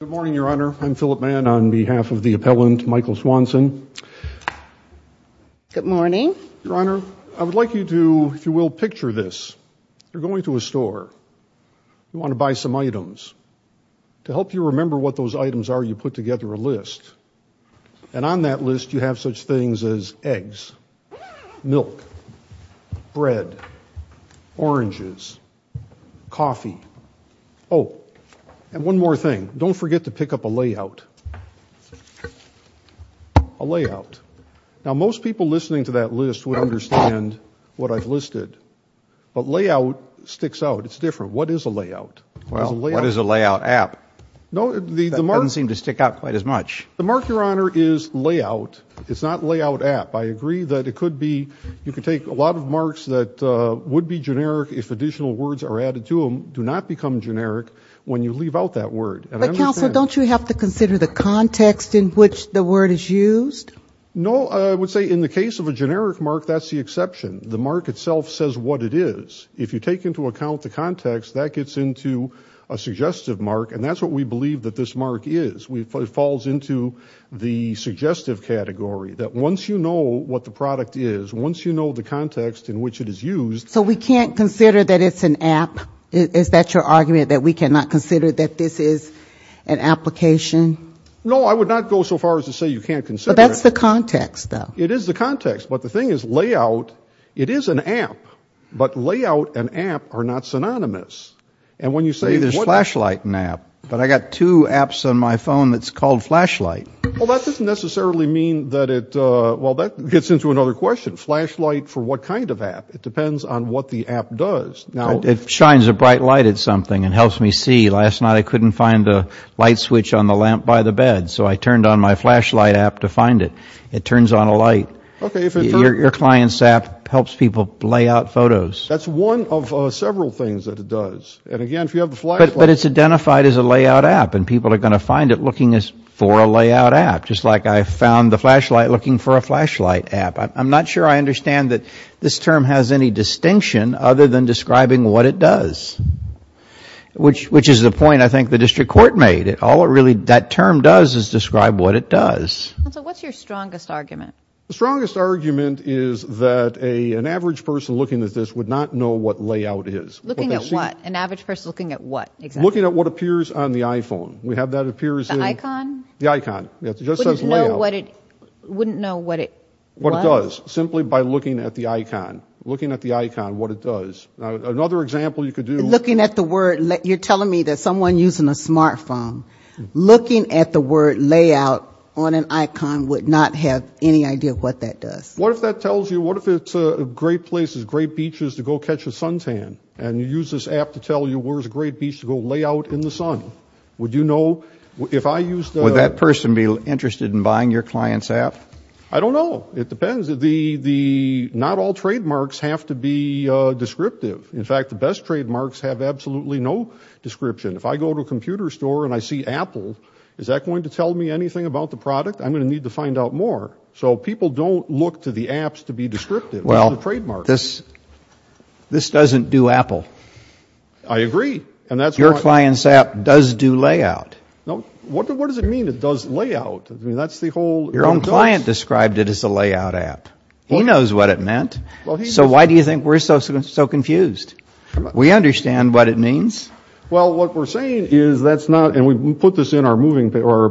Good morning, Your Honor. I'm Philip Mann on behalf of the appellant, Michael Swanson. Good morning. Your Honor, I would like you to, if you will, picture this. You're going to a store. You want to buy some items. To help you remember what those items are, you put together a list. And on that list, you have such things as eggs, milk, bread, oranges, coffee. Oh, and one more thing. Don't forget to pick up a layout. A layout. Now, most people listening to that list would understand what I've listed. But layout sticks out. It's different. What is a layout? Well, what is a layout app? No, the mark... That doesn't seem to stick out quite as much. The mark, Your Honor, is layout. It's not layout app. I agree that it could be, you could take a lot of marks that would be generic if additional words are added to them. They do not become generic when you leave out that word. But counsel, don't you have to consider the context in which the word is used? No, I would say in the case of a generic mark, that's the exception. The mark itself says what it is. If you take into account the context, that gets into a suggestive mark. And that's what we believe that this mark is. It falls into the suggestive category. That once you know what the product is, once you know the context in which it is used... Is that your argument, that we cannot consider that this is an application? No, I would not go so far as to say you can't consider it. But that's the context, though. It is the context. But the thing is, layout, it is an app. But layout and app are not synonymous. And when you say... You say there's flashlight and app. But I got two apps on my phone that's called flashlight. Well, that doesn't necessarily mean that it, well, that gets into another question. Flashlight for what kind of app? It depends on what the app does. It shines a bright light at something and helps me see. Last night I couldn't find a light switch on the lamp by the bed, so I turned on my flashlight app to find it. It turns on a light. Your client's app helps people lay out photos. That's one of several things that it does. And, again, if you have the flashlight... But it's identified as a layout app, and people are going to find it looking for a layout app, just like I found the flashlight looking for a flashlight app. I'm not sure I understand that this term has any distinction other than describing what it does, which is the point I think the district court made. All it really... That term does is describe what it does. What's your strongest argument? The strongest argument is that an average person looking at this would not know what layout is. Looking at what? An average person looking at what? Looking at what appears on the iPhone. We have that appears in... The icon? The icon. It just says layout. Wouldn't know what it was? What it does, simply by looking at the icon. Looking at the icon, what it does. Another example you could do... Looking at the word... You're telling me that someone using a smart phone, looking at the word layout on an icon would not have any idea what that does. What if that tells you... What if it's a great place, great beaches to go catch a suntan, and you use this app to tell you where's a great beach to go lay out in the sun? Would you know? If I used... Would that person be interested in buying your client's app? I don't know. It depends. Not all trademarks have to be descriptive. In fact, the best trademarks have absolutely no description. If I go to a computer store and I see Apple, is that going to tell me anything about the product? I'm going to need to find out more. So people don't look to the apps to be descriptive. Well, this doesn't do Apple. I agree. Your client's app does do layout. What does it mean it does layout? That's the whole... Your own client described it as a layout app. He knows what it meant. So why do you think we're so confused? We understand what it means. Well, what we're saying is that's not... And we put this in our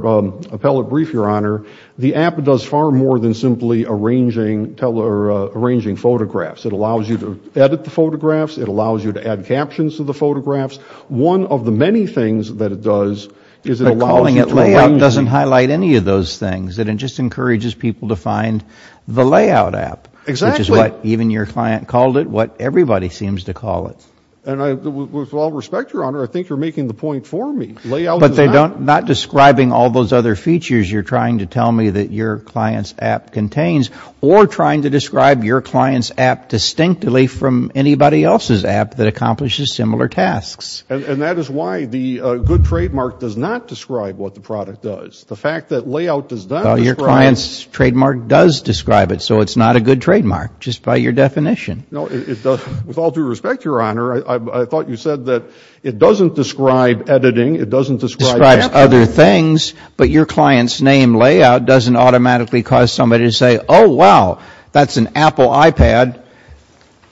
appellate brief, Your Honor. The app does far more than simply arranging photographs. It allows you to edit the photographs. It allows you to add captions to the photographs. One of the many things that it does is it allows you to arrange... But calling it layout doesn't highlight any of those things. It just encourages people to find the layout app. Exactly. Which is what even your client called it, what everybody seems to call it. And with all respect, Your Honor, I think you're making the point for me. Layout is an app. But not describing all those other features you're trying to tell me that your client's app contains or trying to describe your client's app distinctly from anybody else's app that accomplishes similar tasks. And that is why the good trademark does not describe what the product does. The fact that layout does not describe... Well, your client's trademark does describe it. So it's not a good trademark, just by your definition. No, it doesn't. With all due respect, Your Honor, I thought you said that it doesn't describe editing. It doesn't describe... Describes other things. But your client's name, Layout, doesn't automatically cause somebody to say, Oh, wow, that's an Apple iPad.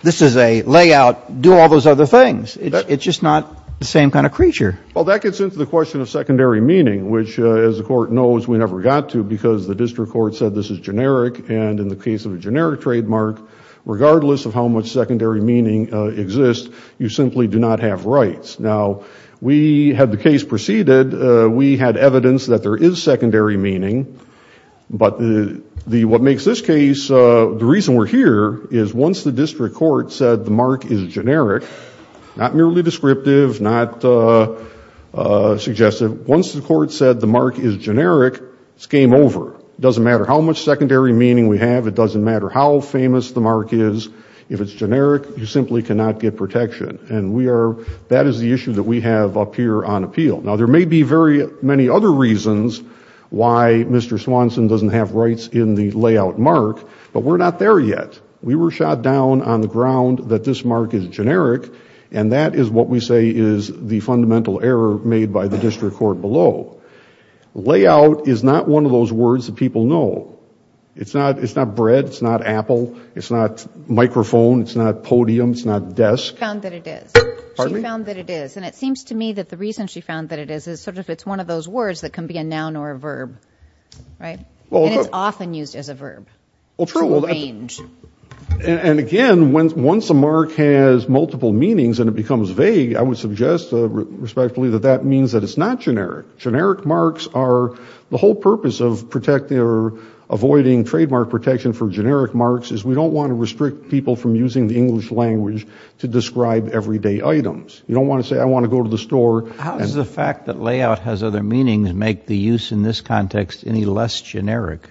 This is a Layout. Do all those other things. It's just not the same kind of creature. Well, that gets into the question of secondary meaning, which, as the Court knows, we never got to because the district court said this is generic. And in the case of a generic trademark, regardless of how much secondary meaning exists, you simply do not have rights. Now, we had the case proceeded. We had evidence that there is secondary meaning. But what makes this case... The reason we're here is once the district court said the mark is generic, not merely descriptive, not suggestive, once the court said the mark is generic, it's game over. It doesn't matter how much secondary meaning we have. It doesn't matter how famous the mark is. If it's generic, you simply cannot get protection. And that is the issue that we have up here on appeal. Now, there may be very many other reasons why Mr. Swanson doesn't have rights in the Layout mark, but we're not there yet. We were shot down on the ground that this mark is generic, and that is what we say is the fundamental error made by the district court below. Layout is not one of those words that people know. It's not bread. It's not Apple. It's not microphone. It's not podium. It's not desk. She found that it is. Pardon me? She found that it is, and it seems to me that the reason she found that it is is sort of it's one of those words that can be a noun or a verb, right? And it's often used as a verb. Well, true. To arrange. And, again, once a mark has multiple meanings and it becomes vague, I would suggest respectfully that that means that it's not generic. Generic marks are the whole purpose of protecting or avoiding trademark protection for generic marks is we don't want to restrict people from using the English language to describe everyday items. You don't want to say, I want to go to the store. How does the fact that layout has other meanings make the use in this context any less generic?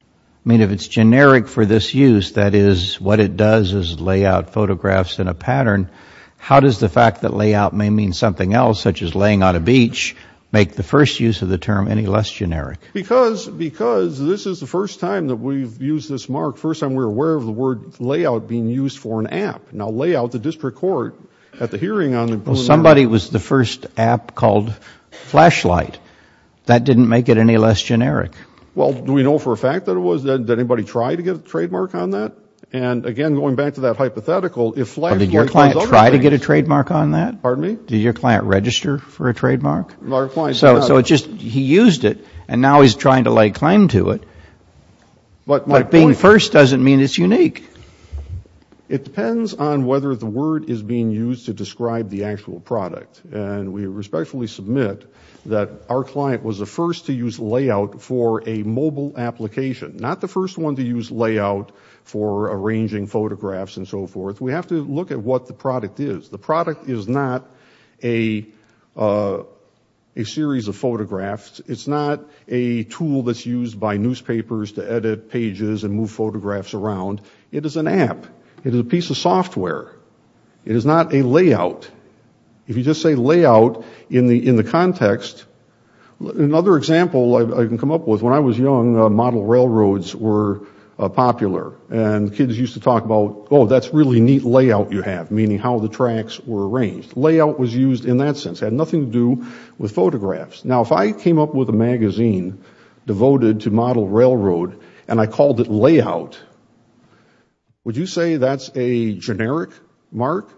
I mean, if it's generic for this use, that is what it does is lay out photographs in a pattern, how does the fact that layout may mean something else, such as laying on a beach, make the first use of the term any less generic? Because this is the first time that we've used this mark, the first time we were aware of the word layout being used for an app. Now, layout, the district court at the hearing on the Blue Moon. Somebody was the first app called Flashlight. That didn't make it any less generic. Well, do we know for a fact that it was? Did anybody try to get a trademark on that? And, again, going back to that hypothetical, if Flashlight was other things. Did your client try to get a trademark on that? Pardon me? Did your client register for a trademark? So he used it, and now he's trying to lay claim to it. But being first doesn't mean it's unique. It depends on whether the word is being used to describe the actual product. And we respectfully submit that our client was the first to use layout for a mobile application, not the first one to use layout for arranging photographs and so forth. We have to look at what the product is. The product is not a series of photographs. It's not a tool that's used by newspapers to edit pages and move photographs around. It is an app. It is a piece of software. It is not a layout. If you just say layout in the context, another example I can come up with, when I was young, model railroads were popular, and kids used to talk about, oh, that's a really neat layout you have, meaning how the tracks were arranged. Layout was used in that sense. It had nothing to do with photographs. Now, if I came up with a magazine devoted to model railroad, and I called it layout, would you say that's a generic mark?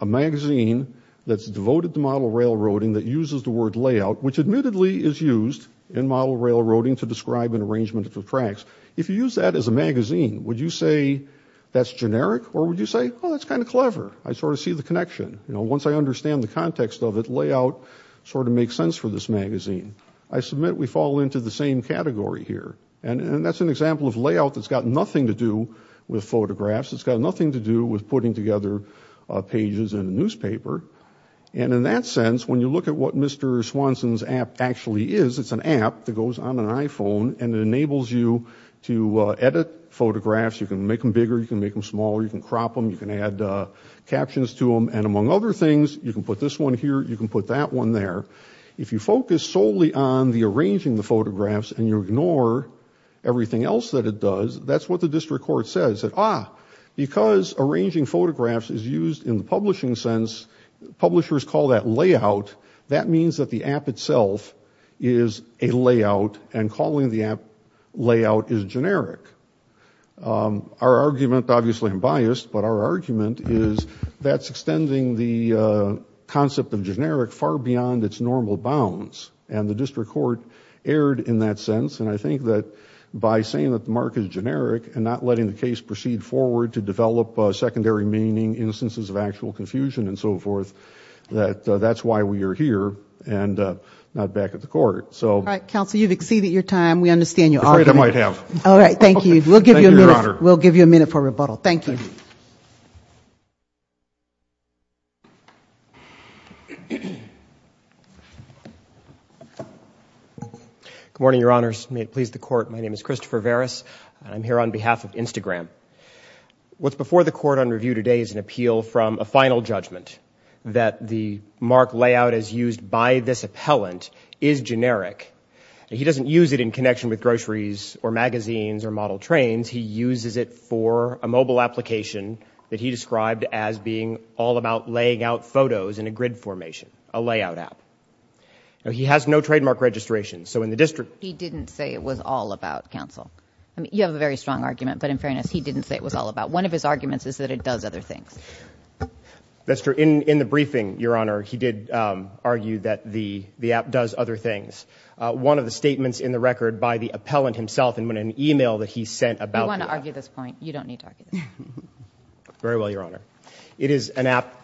A magazine that's devoted to model railroading that uses the word layout, which admittedly is used in model railroading to describe an arrangement of tracks. If you use that as a magazine, would you say that's generic, or would you say, oh, that's kind of clever? I sort of see the connection. Once I understand the context of it, layout sort of makes sense for this magazine. I submit we fall into the same category here, and that's an example of layout that's got nothing to do with photographs. It's got nothing to do with putting together pages in a newspaper. And in that sense, when you look at what Mr. Swanson's app actually is, it's an app that goes on an iPhone, and it enables you to edit photographs. You can make them bigger, you can make them smaller, you can crop them, you can add captions to them, and among other things, you can put this one here, you can put that one there. If you focus solely on the arranging the photographs and you ignore everything else that it does, that's what the district court says. Ah, because arranging photographs is used in the publishing sense, publishers call that layout. That means that the app itself is a layout, and calling the app layout is generic. Our argument, obviously I'm biased, but our argument is that's extending the concept of generic far beyond its normal bounds, and the district court erred in that sense, and I think that by saying that the mark is generic and not letting the case proceed forward to develop secondary meaning, instances of actual confusion, and so forth, that that's why we are here and not back at the court. All right, counsel, you've exceeded your time. We understand your argument. Afraid I might have. All right, thank you. Thank you, Your Honor. We'll give you a minute for rebuttal. Thank you. Good morning, Your Honors. May it please the court, my name is Christopher Veras. I'm here on behalf of Instagram. What's before the court on review today is an appeal from a final judgment that the mark layout as used by this appellant is generic. He doesn't use it in connection with groceries or magazines or model trains. He uses it for a mobile application that he described as being all about laying out photos in a grid formation, a layout app. He has no trademark registration, so in the district. He didn't say it was all about, counsel. You have a very strong argument, but in fairness, he didn't say it was all about. One of his arguments is that it does other things. That's true. In the briefing, Your Honor, he did argue that the app does other things. One of the statements in the record by the appellant himself in an email that he sent about the app. You want to argue this point? You don't need to argue this point. Very well, Your Honor. It is an app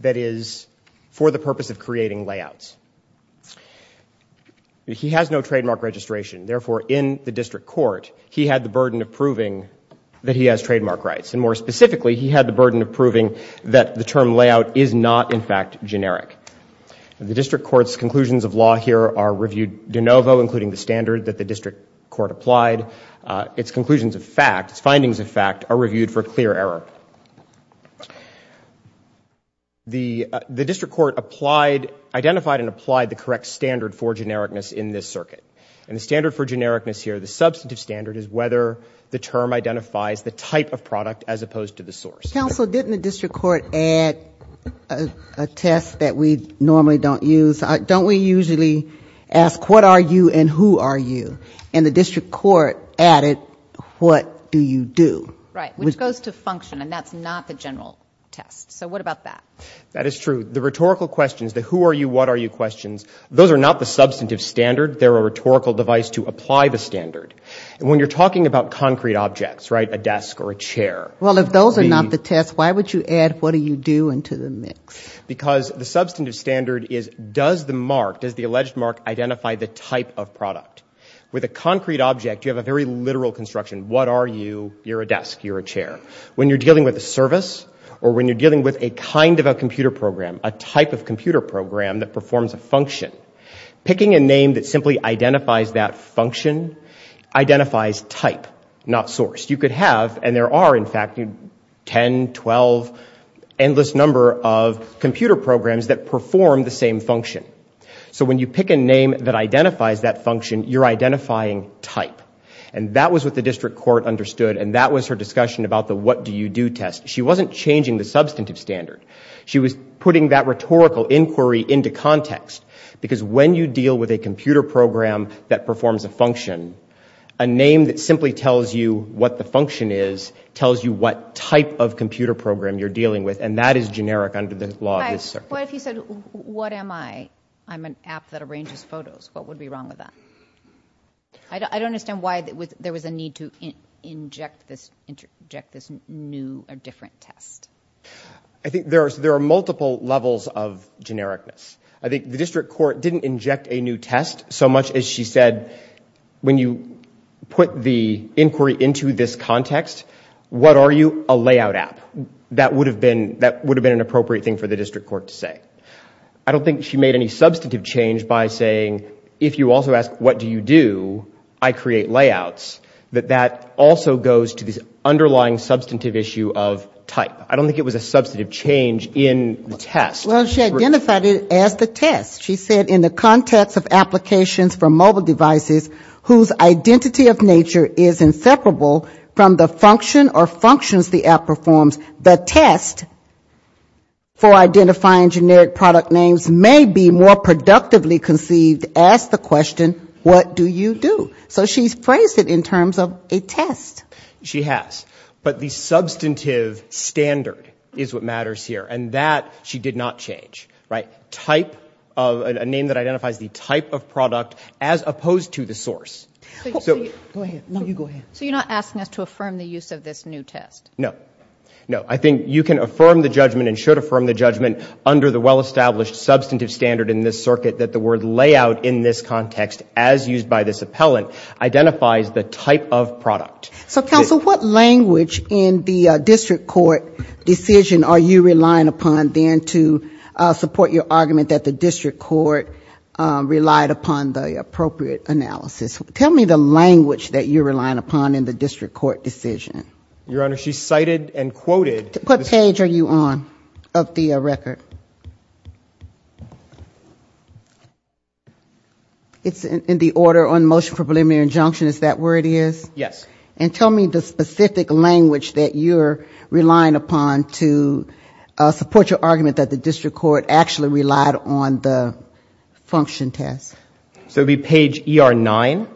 that is for the purpose of creating layouts. He has no trademark registration, therefore, in the district court, he had the burden of proving that he has trademark rights. And more specifically, he had the burden of proving that the term layout is not, in fact, generic. The district court's conclusions of law here are reviewed de novo, including the standard that the district court applied. Its conclusions of fact, its findings of fact, are reviewed for clear error. The district court identified and applied the correct standard for genericness in this circuit. And the standard for genericness here, the substantive standard, is whether the term identifies the type of product as opposed to the source. Counsel, didn't the district court add a test that we normally don't use? Don't we usually ask, what are you and who are you? And the district court added, what do you do? Right, which goes to function, and that's not the general test. So what about that? That is true. The rhetorical questions, the who are you, what are you questions, those are not the substantive standard. They're a rhetorical device to apply the standard. And when you're talking about concrete objects, right, a desk or a chair. Well, if those are not the test, why would you add what do you do into the mix? Because the substantive standard is does the mark, does the alleged mark identify the type of product? With a concrete object, you have a very literal construction. What are you? You're a desk, you're a chair. When you're dealing with a service or when you're dealing with a kind of a computer program, a type of computer program that performs a function, picking a name that simply identifies that function identifies type, not source. You could have, and there are in fact 10, 12, endless number of computer programs that perform the same function. So when you pick a name that identifies that function, you're identifying type. And that was what the district court understood and that was her discussion about the what do you do test. She wasn't changing the substantive standard. She was putting that rhetorical inquiry into context because when you deal with a computer program that performs a function, a name that simply tells you what the function is, tells you what type of computer program you're dealing with, and that is generic under the law of this circuit. But if you said what am I? I'm an app that arranges photos. What would be wrong with that? I don't understand why there was a need to inject this new or different test. I think there are multiple levels of genericness. I think the district court didn't inject a new test so much as she said when you put the inquiry into this context, what are you? A layout app. That would have been an appropriate thing for the district court to say. I don't think she made any substantive change by saying if you also ask what do you do, I create layouts, that that also goes to this underlying substantive issue of type. I don't think it was a substantive change in the test. Well, she identified it as the test. She said in the context of applications for mobile devices whose identity of nature is inseparable from the function or functions the app performs, the test for identifying generic product names may be more productively conceived. Ask the question, what do you do? So she's phrased it in terms of a test. She has. But the substantive standard is what matters here, and that she did not change. Type of a name that identifies the type of product as opposed to the source. Go ahead. No, you go ahead. So you're not asking us to affirm the use of this new test? No. No, I think you can affirm the judgment and should affirm the judgment under the well-established substantive standard in this circuit that the word layout in this context, as used by this appellant, identifies the type of product. So, counsel, what language in the district court decision are you relying upon then to support your argument that the district court relied upon the appropriate analysis? Tell me the language that you're relying upon in the district court decision. Your Honor, she cited and quoted. What page are you on of the record? It's in the order on motion for preliminary injunction. Is that where it is? Yes. And tell me the specific language that you're relying upon to support your argument that the district court actually relied on the function test. So it would be page ER9,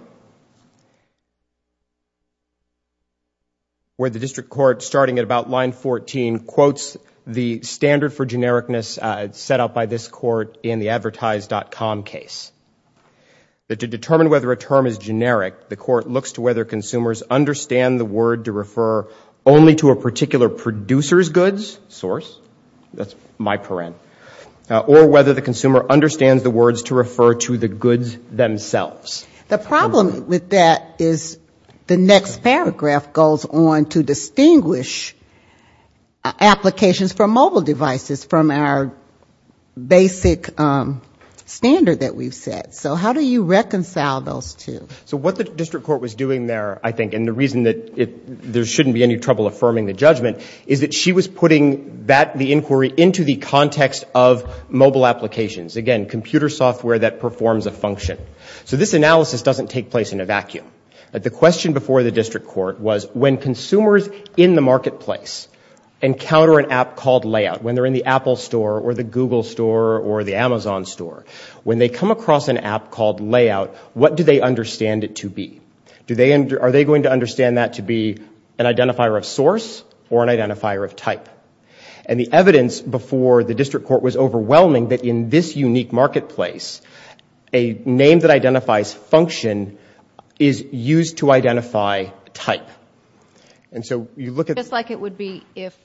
where the district court, starting at about line 14, quotes the standard for genericness set up by this court in the advertised.com case. To determine whether a term is generic, the court looks to whether consumers understand the word to refer only to a particular producer's goods, source. That's my paren. Or whether the consumer understands the words to refer to the goods themselves. The problem with that is the next paragraph goes on to distinguish applications for mobile devices from our basic standard that we've set. So how do you reconcile those two? So what the district court was doing there, I think, and the reason that there shouldn't be any trouble affirming the judgment, is that she was putting the inquiry into the context of mobile applications. Again, computer software that performs a function. So this analysis doesn't take place in a vacuum. The question before the district court was, when consumers in the marketplace encounter an app called Layout, when they're in the Apple store or the Google store or the Amazon store, when they come across an app called Layout, what do they understand it to be? Are they going to understand that to be an identifier of source or an identifier of type? And the evidence before the district court was overwhelming that in this unique marketplace, a name that identifies function is used to identify type. And so you look at... Just like it would be if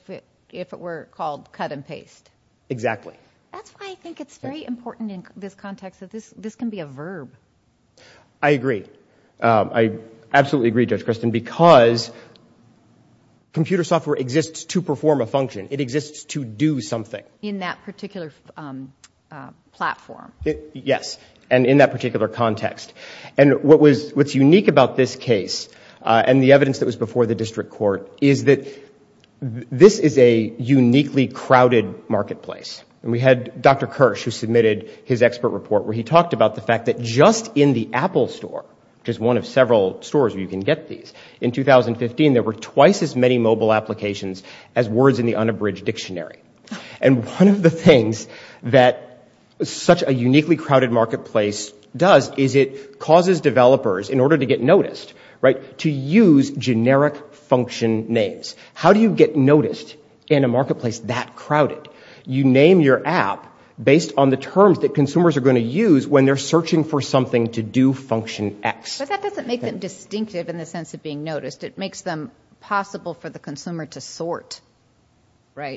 it were called cut and paste. Exactly. That's why I think it's very important in this context that this can be a verb. I agree. I absolutely agree, Judge Christin, because computer software exists to perform a function. It exists to do something. In that particular platform. Yes, and in that particular context. And what's unique about this case and the evidence that was before the district court is that this is a uniquely crowded marketplace. And we had Dr. Kirsch who submitted his expert report where he talked about the fact that just in the Apple store, which is one of several stores where you can get these, in 2015 there were twice as many mobile applications as words in the unabridged dictionary. And one of the things that such a uniquely crowded marketplace does is it causes developers, in order to get noticed, to use generic function names. How do you get noticed in a marketplace that crowded? You name your app based on the terms that consumers are going to use when they're searching for something to do function X. But that doesn't make them distinctive in the sense of being noticed. It makes them possible for the consumer to sort.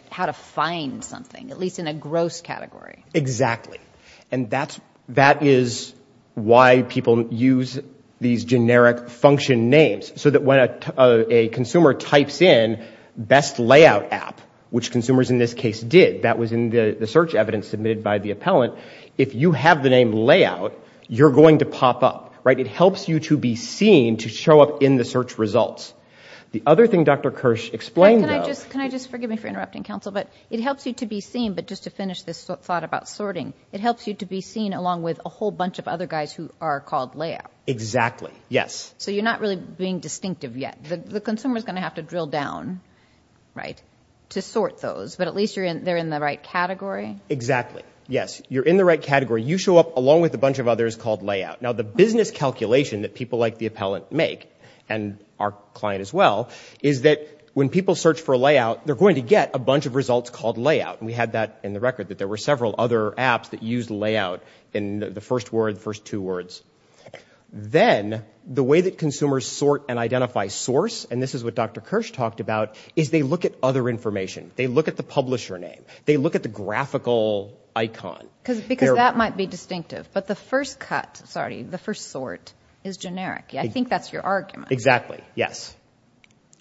How to find something, at least in a gross category. Exactly. And that is why people use these generic function names. So that when a consumer types in best layout app, which consumers in this case did, that was in the search evidence submitted by the appellant, if you have the name layout, you're going to pop up. It helps you to be seen to show up in the search results. The other thing Dr. Kirsch explained though... Can I just, forgive me for interrupting, Counsel, but it helps you to be seen, but just to finish this thought about sorting, it helps you to be seen along with a whole bunch of other guys who are called layout. Exactly, yes. So you're not really being distinctive yet. The consumer is going to have to drill down to sort those, but at least they're in the right category. Exactly, yes. You're in the right category. You show up along with a bunch of others called layout. Now the business calculation that people like the appellant make, and our client as well, is that when people search for layout, they're going to get a bunch of results called layout. And we had that in the record, that there were several other apps that used layout in the first word, the first two words. Then the way that consumers sort and identify source, and this is what Dr. Kirsch talked about, is they look at other information. They look at the publisher name. They look at the graphical icon. Because that might be distinctive, but the first cut, sorry, the first sort is generic. I think that's your argument. Exactly, yes.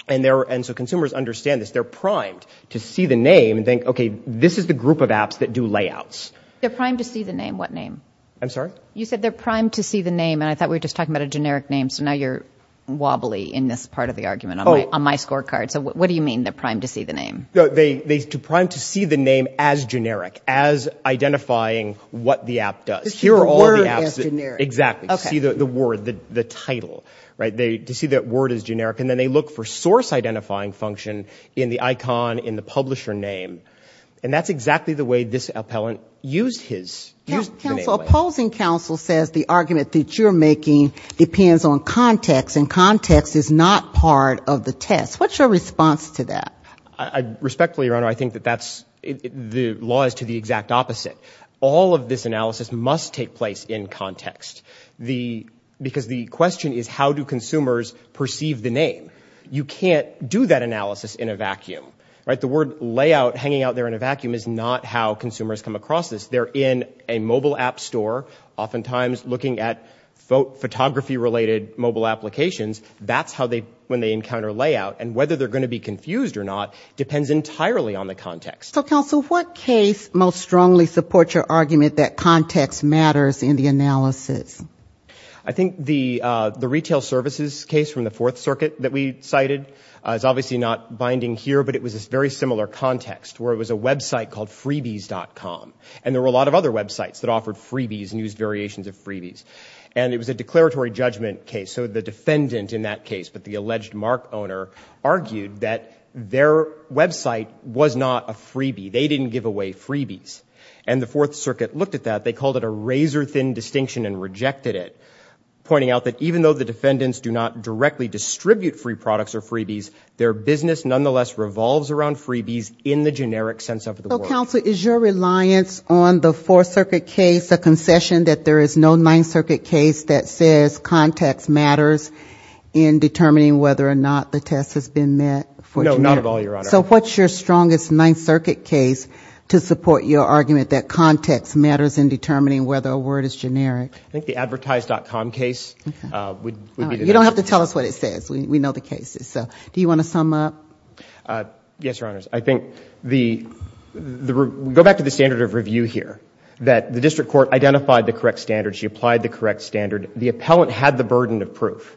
And so consumers understand this. They're primed to see the name and think, okay, this is the group of apps that do layouts. They're primed to see the name. What name? I'm sorry? You said they're primed to see the name, and I thought we were just talking about a generic name, so now you're wobbly in this part of the argument on my scorecard. So what do you mean, they're primed to see the name? They're primed to see the name as generic, as identifying what the app does. To see the word as generic. Exactly, to see the word, the title. To see that word as generic. And then they look for source identifying function in the icon in the publisher name. And that's exactly the way this appellant used his name. Counsel, opposing counsel says the argument that you're making depends on context, and context is not part of the test. What's your response to that? Respectfully, Your Honor, I think that that's, the law is to the exact opposite. All of this analysis must take place in context. Because the question is, how do consumers perceive the name? You can't do that analysis in a vacuum. The word layout hanging out there in a vacuum is not how consumers come across this. They're in a mobile app store, oftentimes looking at photography-related mobile applications. That's how they, when they encounter layout. And whether they're going to be confused or not depends entirely on the context. So, counsel, what case most strongly supports your argument that context matters in the analysis? I think the retail services case from the Fourth Circuit that we cited is obviously not binding here, but it was this very similar context where it was a website called freebies.com. And there were a lot of other websites that offered freebies and used variations of freebies. And it was a declaratory judgment case. So the defendant in that case, but the alleged mark owner, argued that their website was not a freebie. They didn't give away freebies. And the Fourth Circuit looked at that. They called it a razor-thin distinction and rejected it, pointing out that even though the defendants do not directly distribute free products or freebies, their business nonetheless revolves around freebies in the generic sense of the word. So, counsel, is your reliance on the Fourth Circuit case a concession that there is no Ninth Circuit case that says context matters in determining whether or not the test has been met for generic? No, not at all, Your Honor. So what's your strongest Ninth Circuit case to support your argument that context matters in determining whether a word is generic? I think the advertised.com case would be the best. You don't have to tell us what it says. We know the cases. So do you want to sum up? Yes, Your Honors. I think the... Go back to the standard of review here, that the district court identified the correct standards. She applied the correct standard. The appellant had the burden of proof.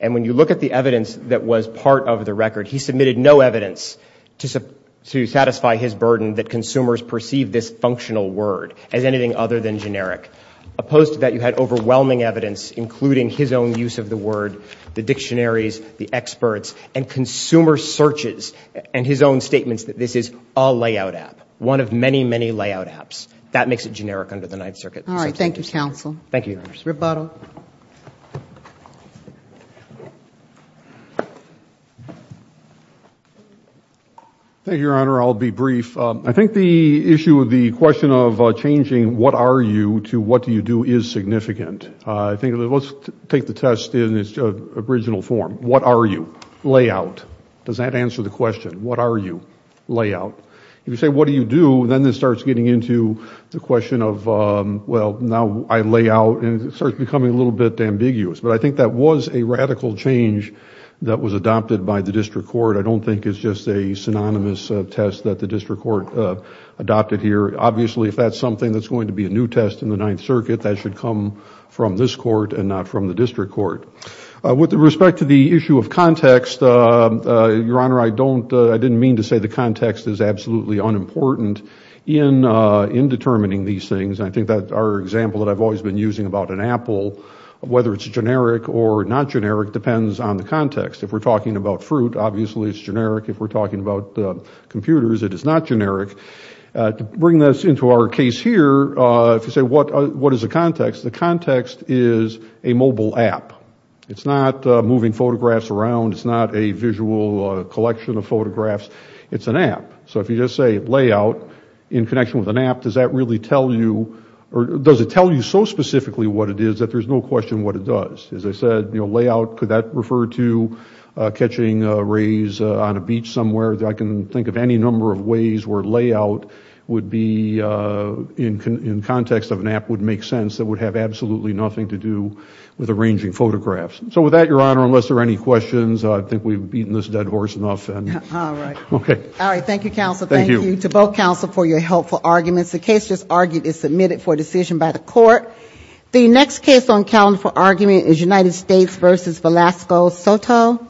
And when you look at the evidence that was part of the record, he submitted no evidence to satisfy his burden that consumers perceive this functional word as anything other than generic. Opposed to that, you had overwhelming evidence, including his own use of the word, the dictionaries, the experts, and consumer searches, and his own statements that this is a layout app, one of many, many layout apps. That makes it generic under the Ninth Circuit. All right, thank you, counsel. Thank you, Your Honors. Rebuttal. Thank you, Your Honor. I'll be brief. I think the issue of the question of changing what are you to what do you do is significant. I think let's take the test in its original form. What are you? Layout. Does that answer the question? What are you? Layout. If you say what do you do, then this starts getting into the question of, well, now I lay out, and it starts becoming a little bit ambiguous. But I think that was a radical change that was adopted by the district court. I don't think it's just a synonymous test that the district court adopted here. Obviously, if that's something that's going to be a new test in the Ninth Circuit, that should come from this court and not from the district court. With respect to the issue of context, Your Honor, I didn't mean to say the context is absolutely unimportant. In determining these things, I think that our example that I've always been using about an apple, whether it's generic or not generic depends on the context. If we're talking about fruit, obviously it's generic. If we're talking about computers, it is not generic. To bring this into our case here, if you say what is a context, the context is a mobile app. It's not moving photographs around. It's not a visual collection of photographs. It's an app. If you just say layout in connection with an app, does it tell you so specifically what it is that there's no question what it does? As I said, layout, could that refer to catching rays on a beach somewhere? I can think of any number of ways where layout would be in context of an app would make sense that would have absolutely nothing to do with arranging photographs. With that, Your Honor, unless there are any questions, I think we've beaten this dead horse enough. All right. All right. Thank you, counsel. Thank you to both counsel for your helpful arguments. The case just argued is submitted for decision by the court. The next case on the calendar for argument is United States v. Velasco Soto.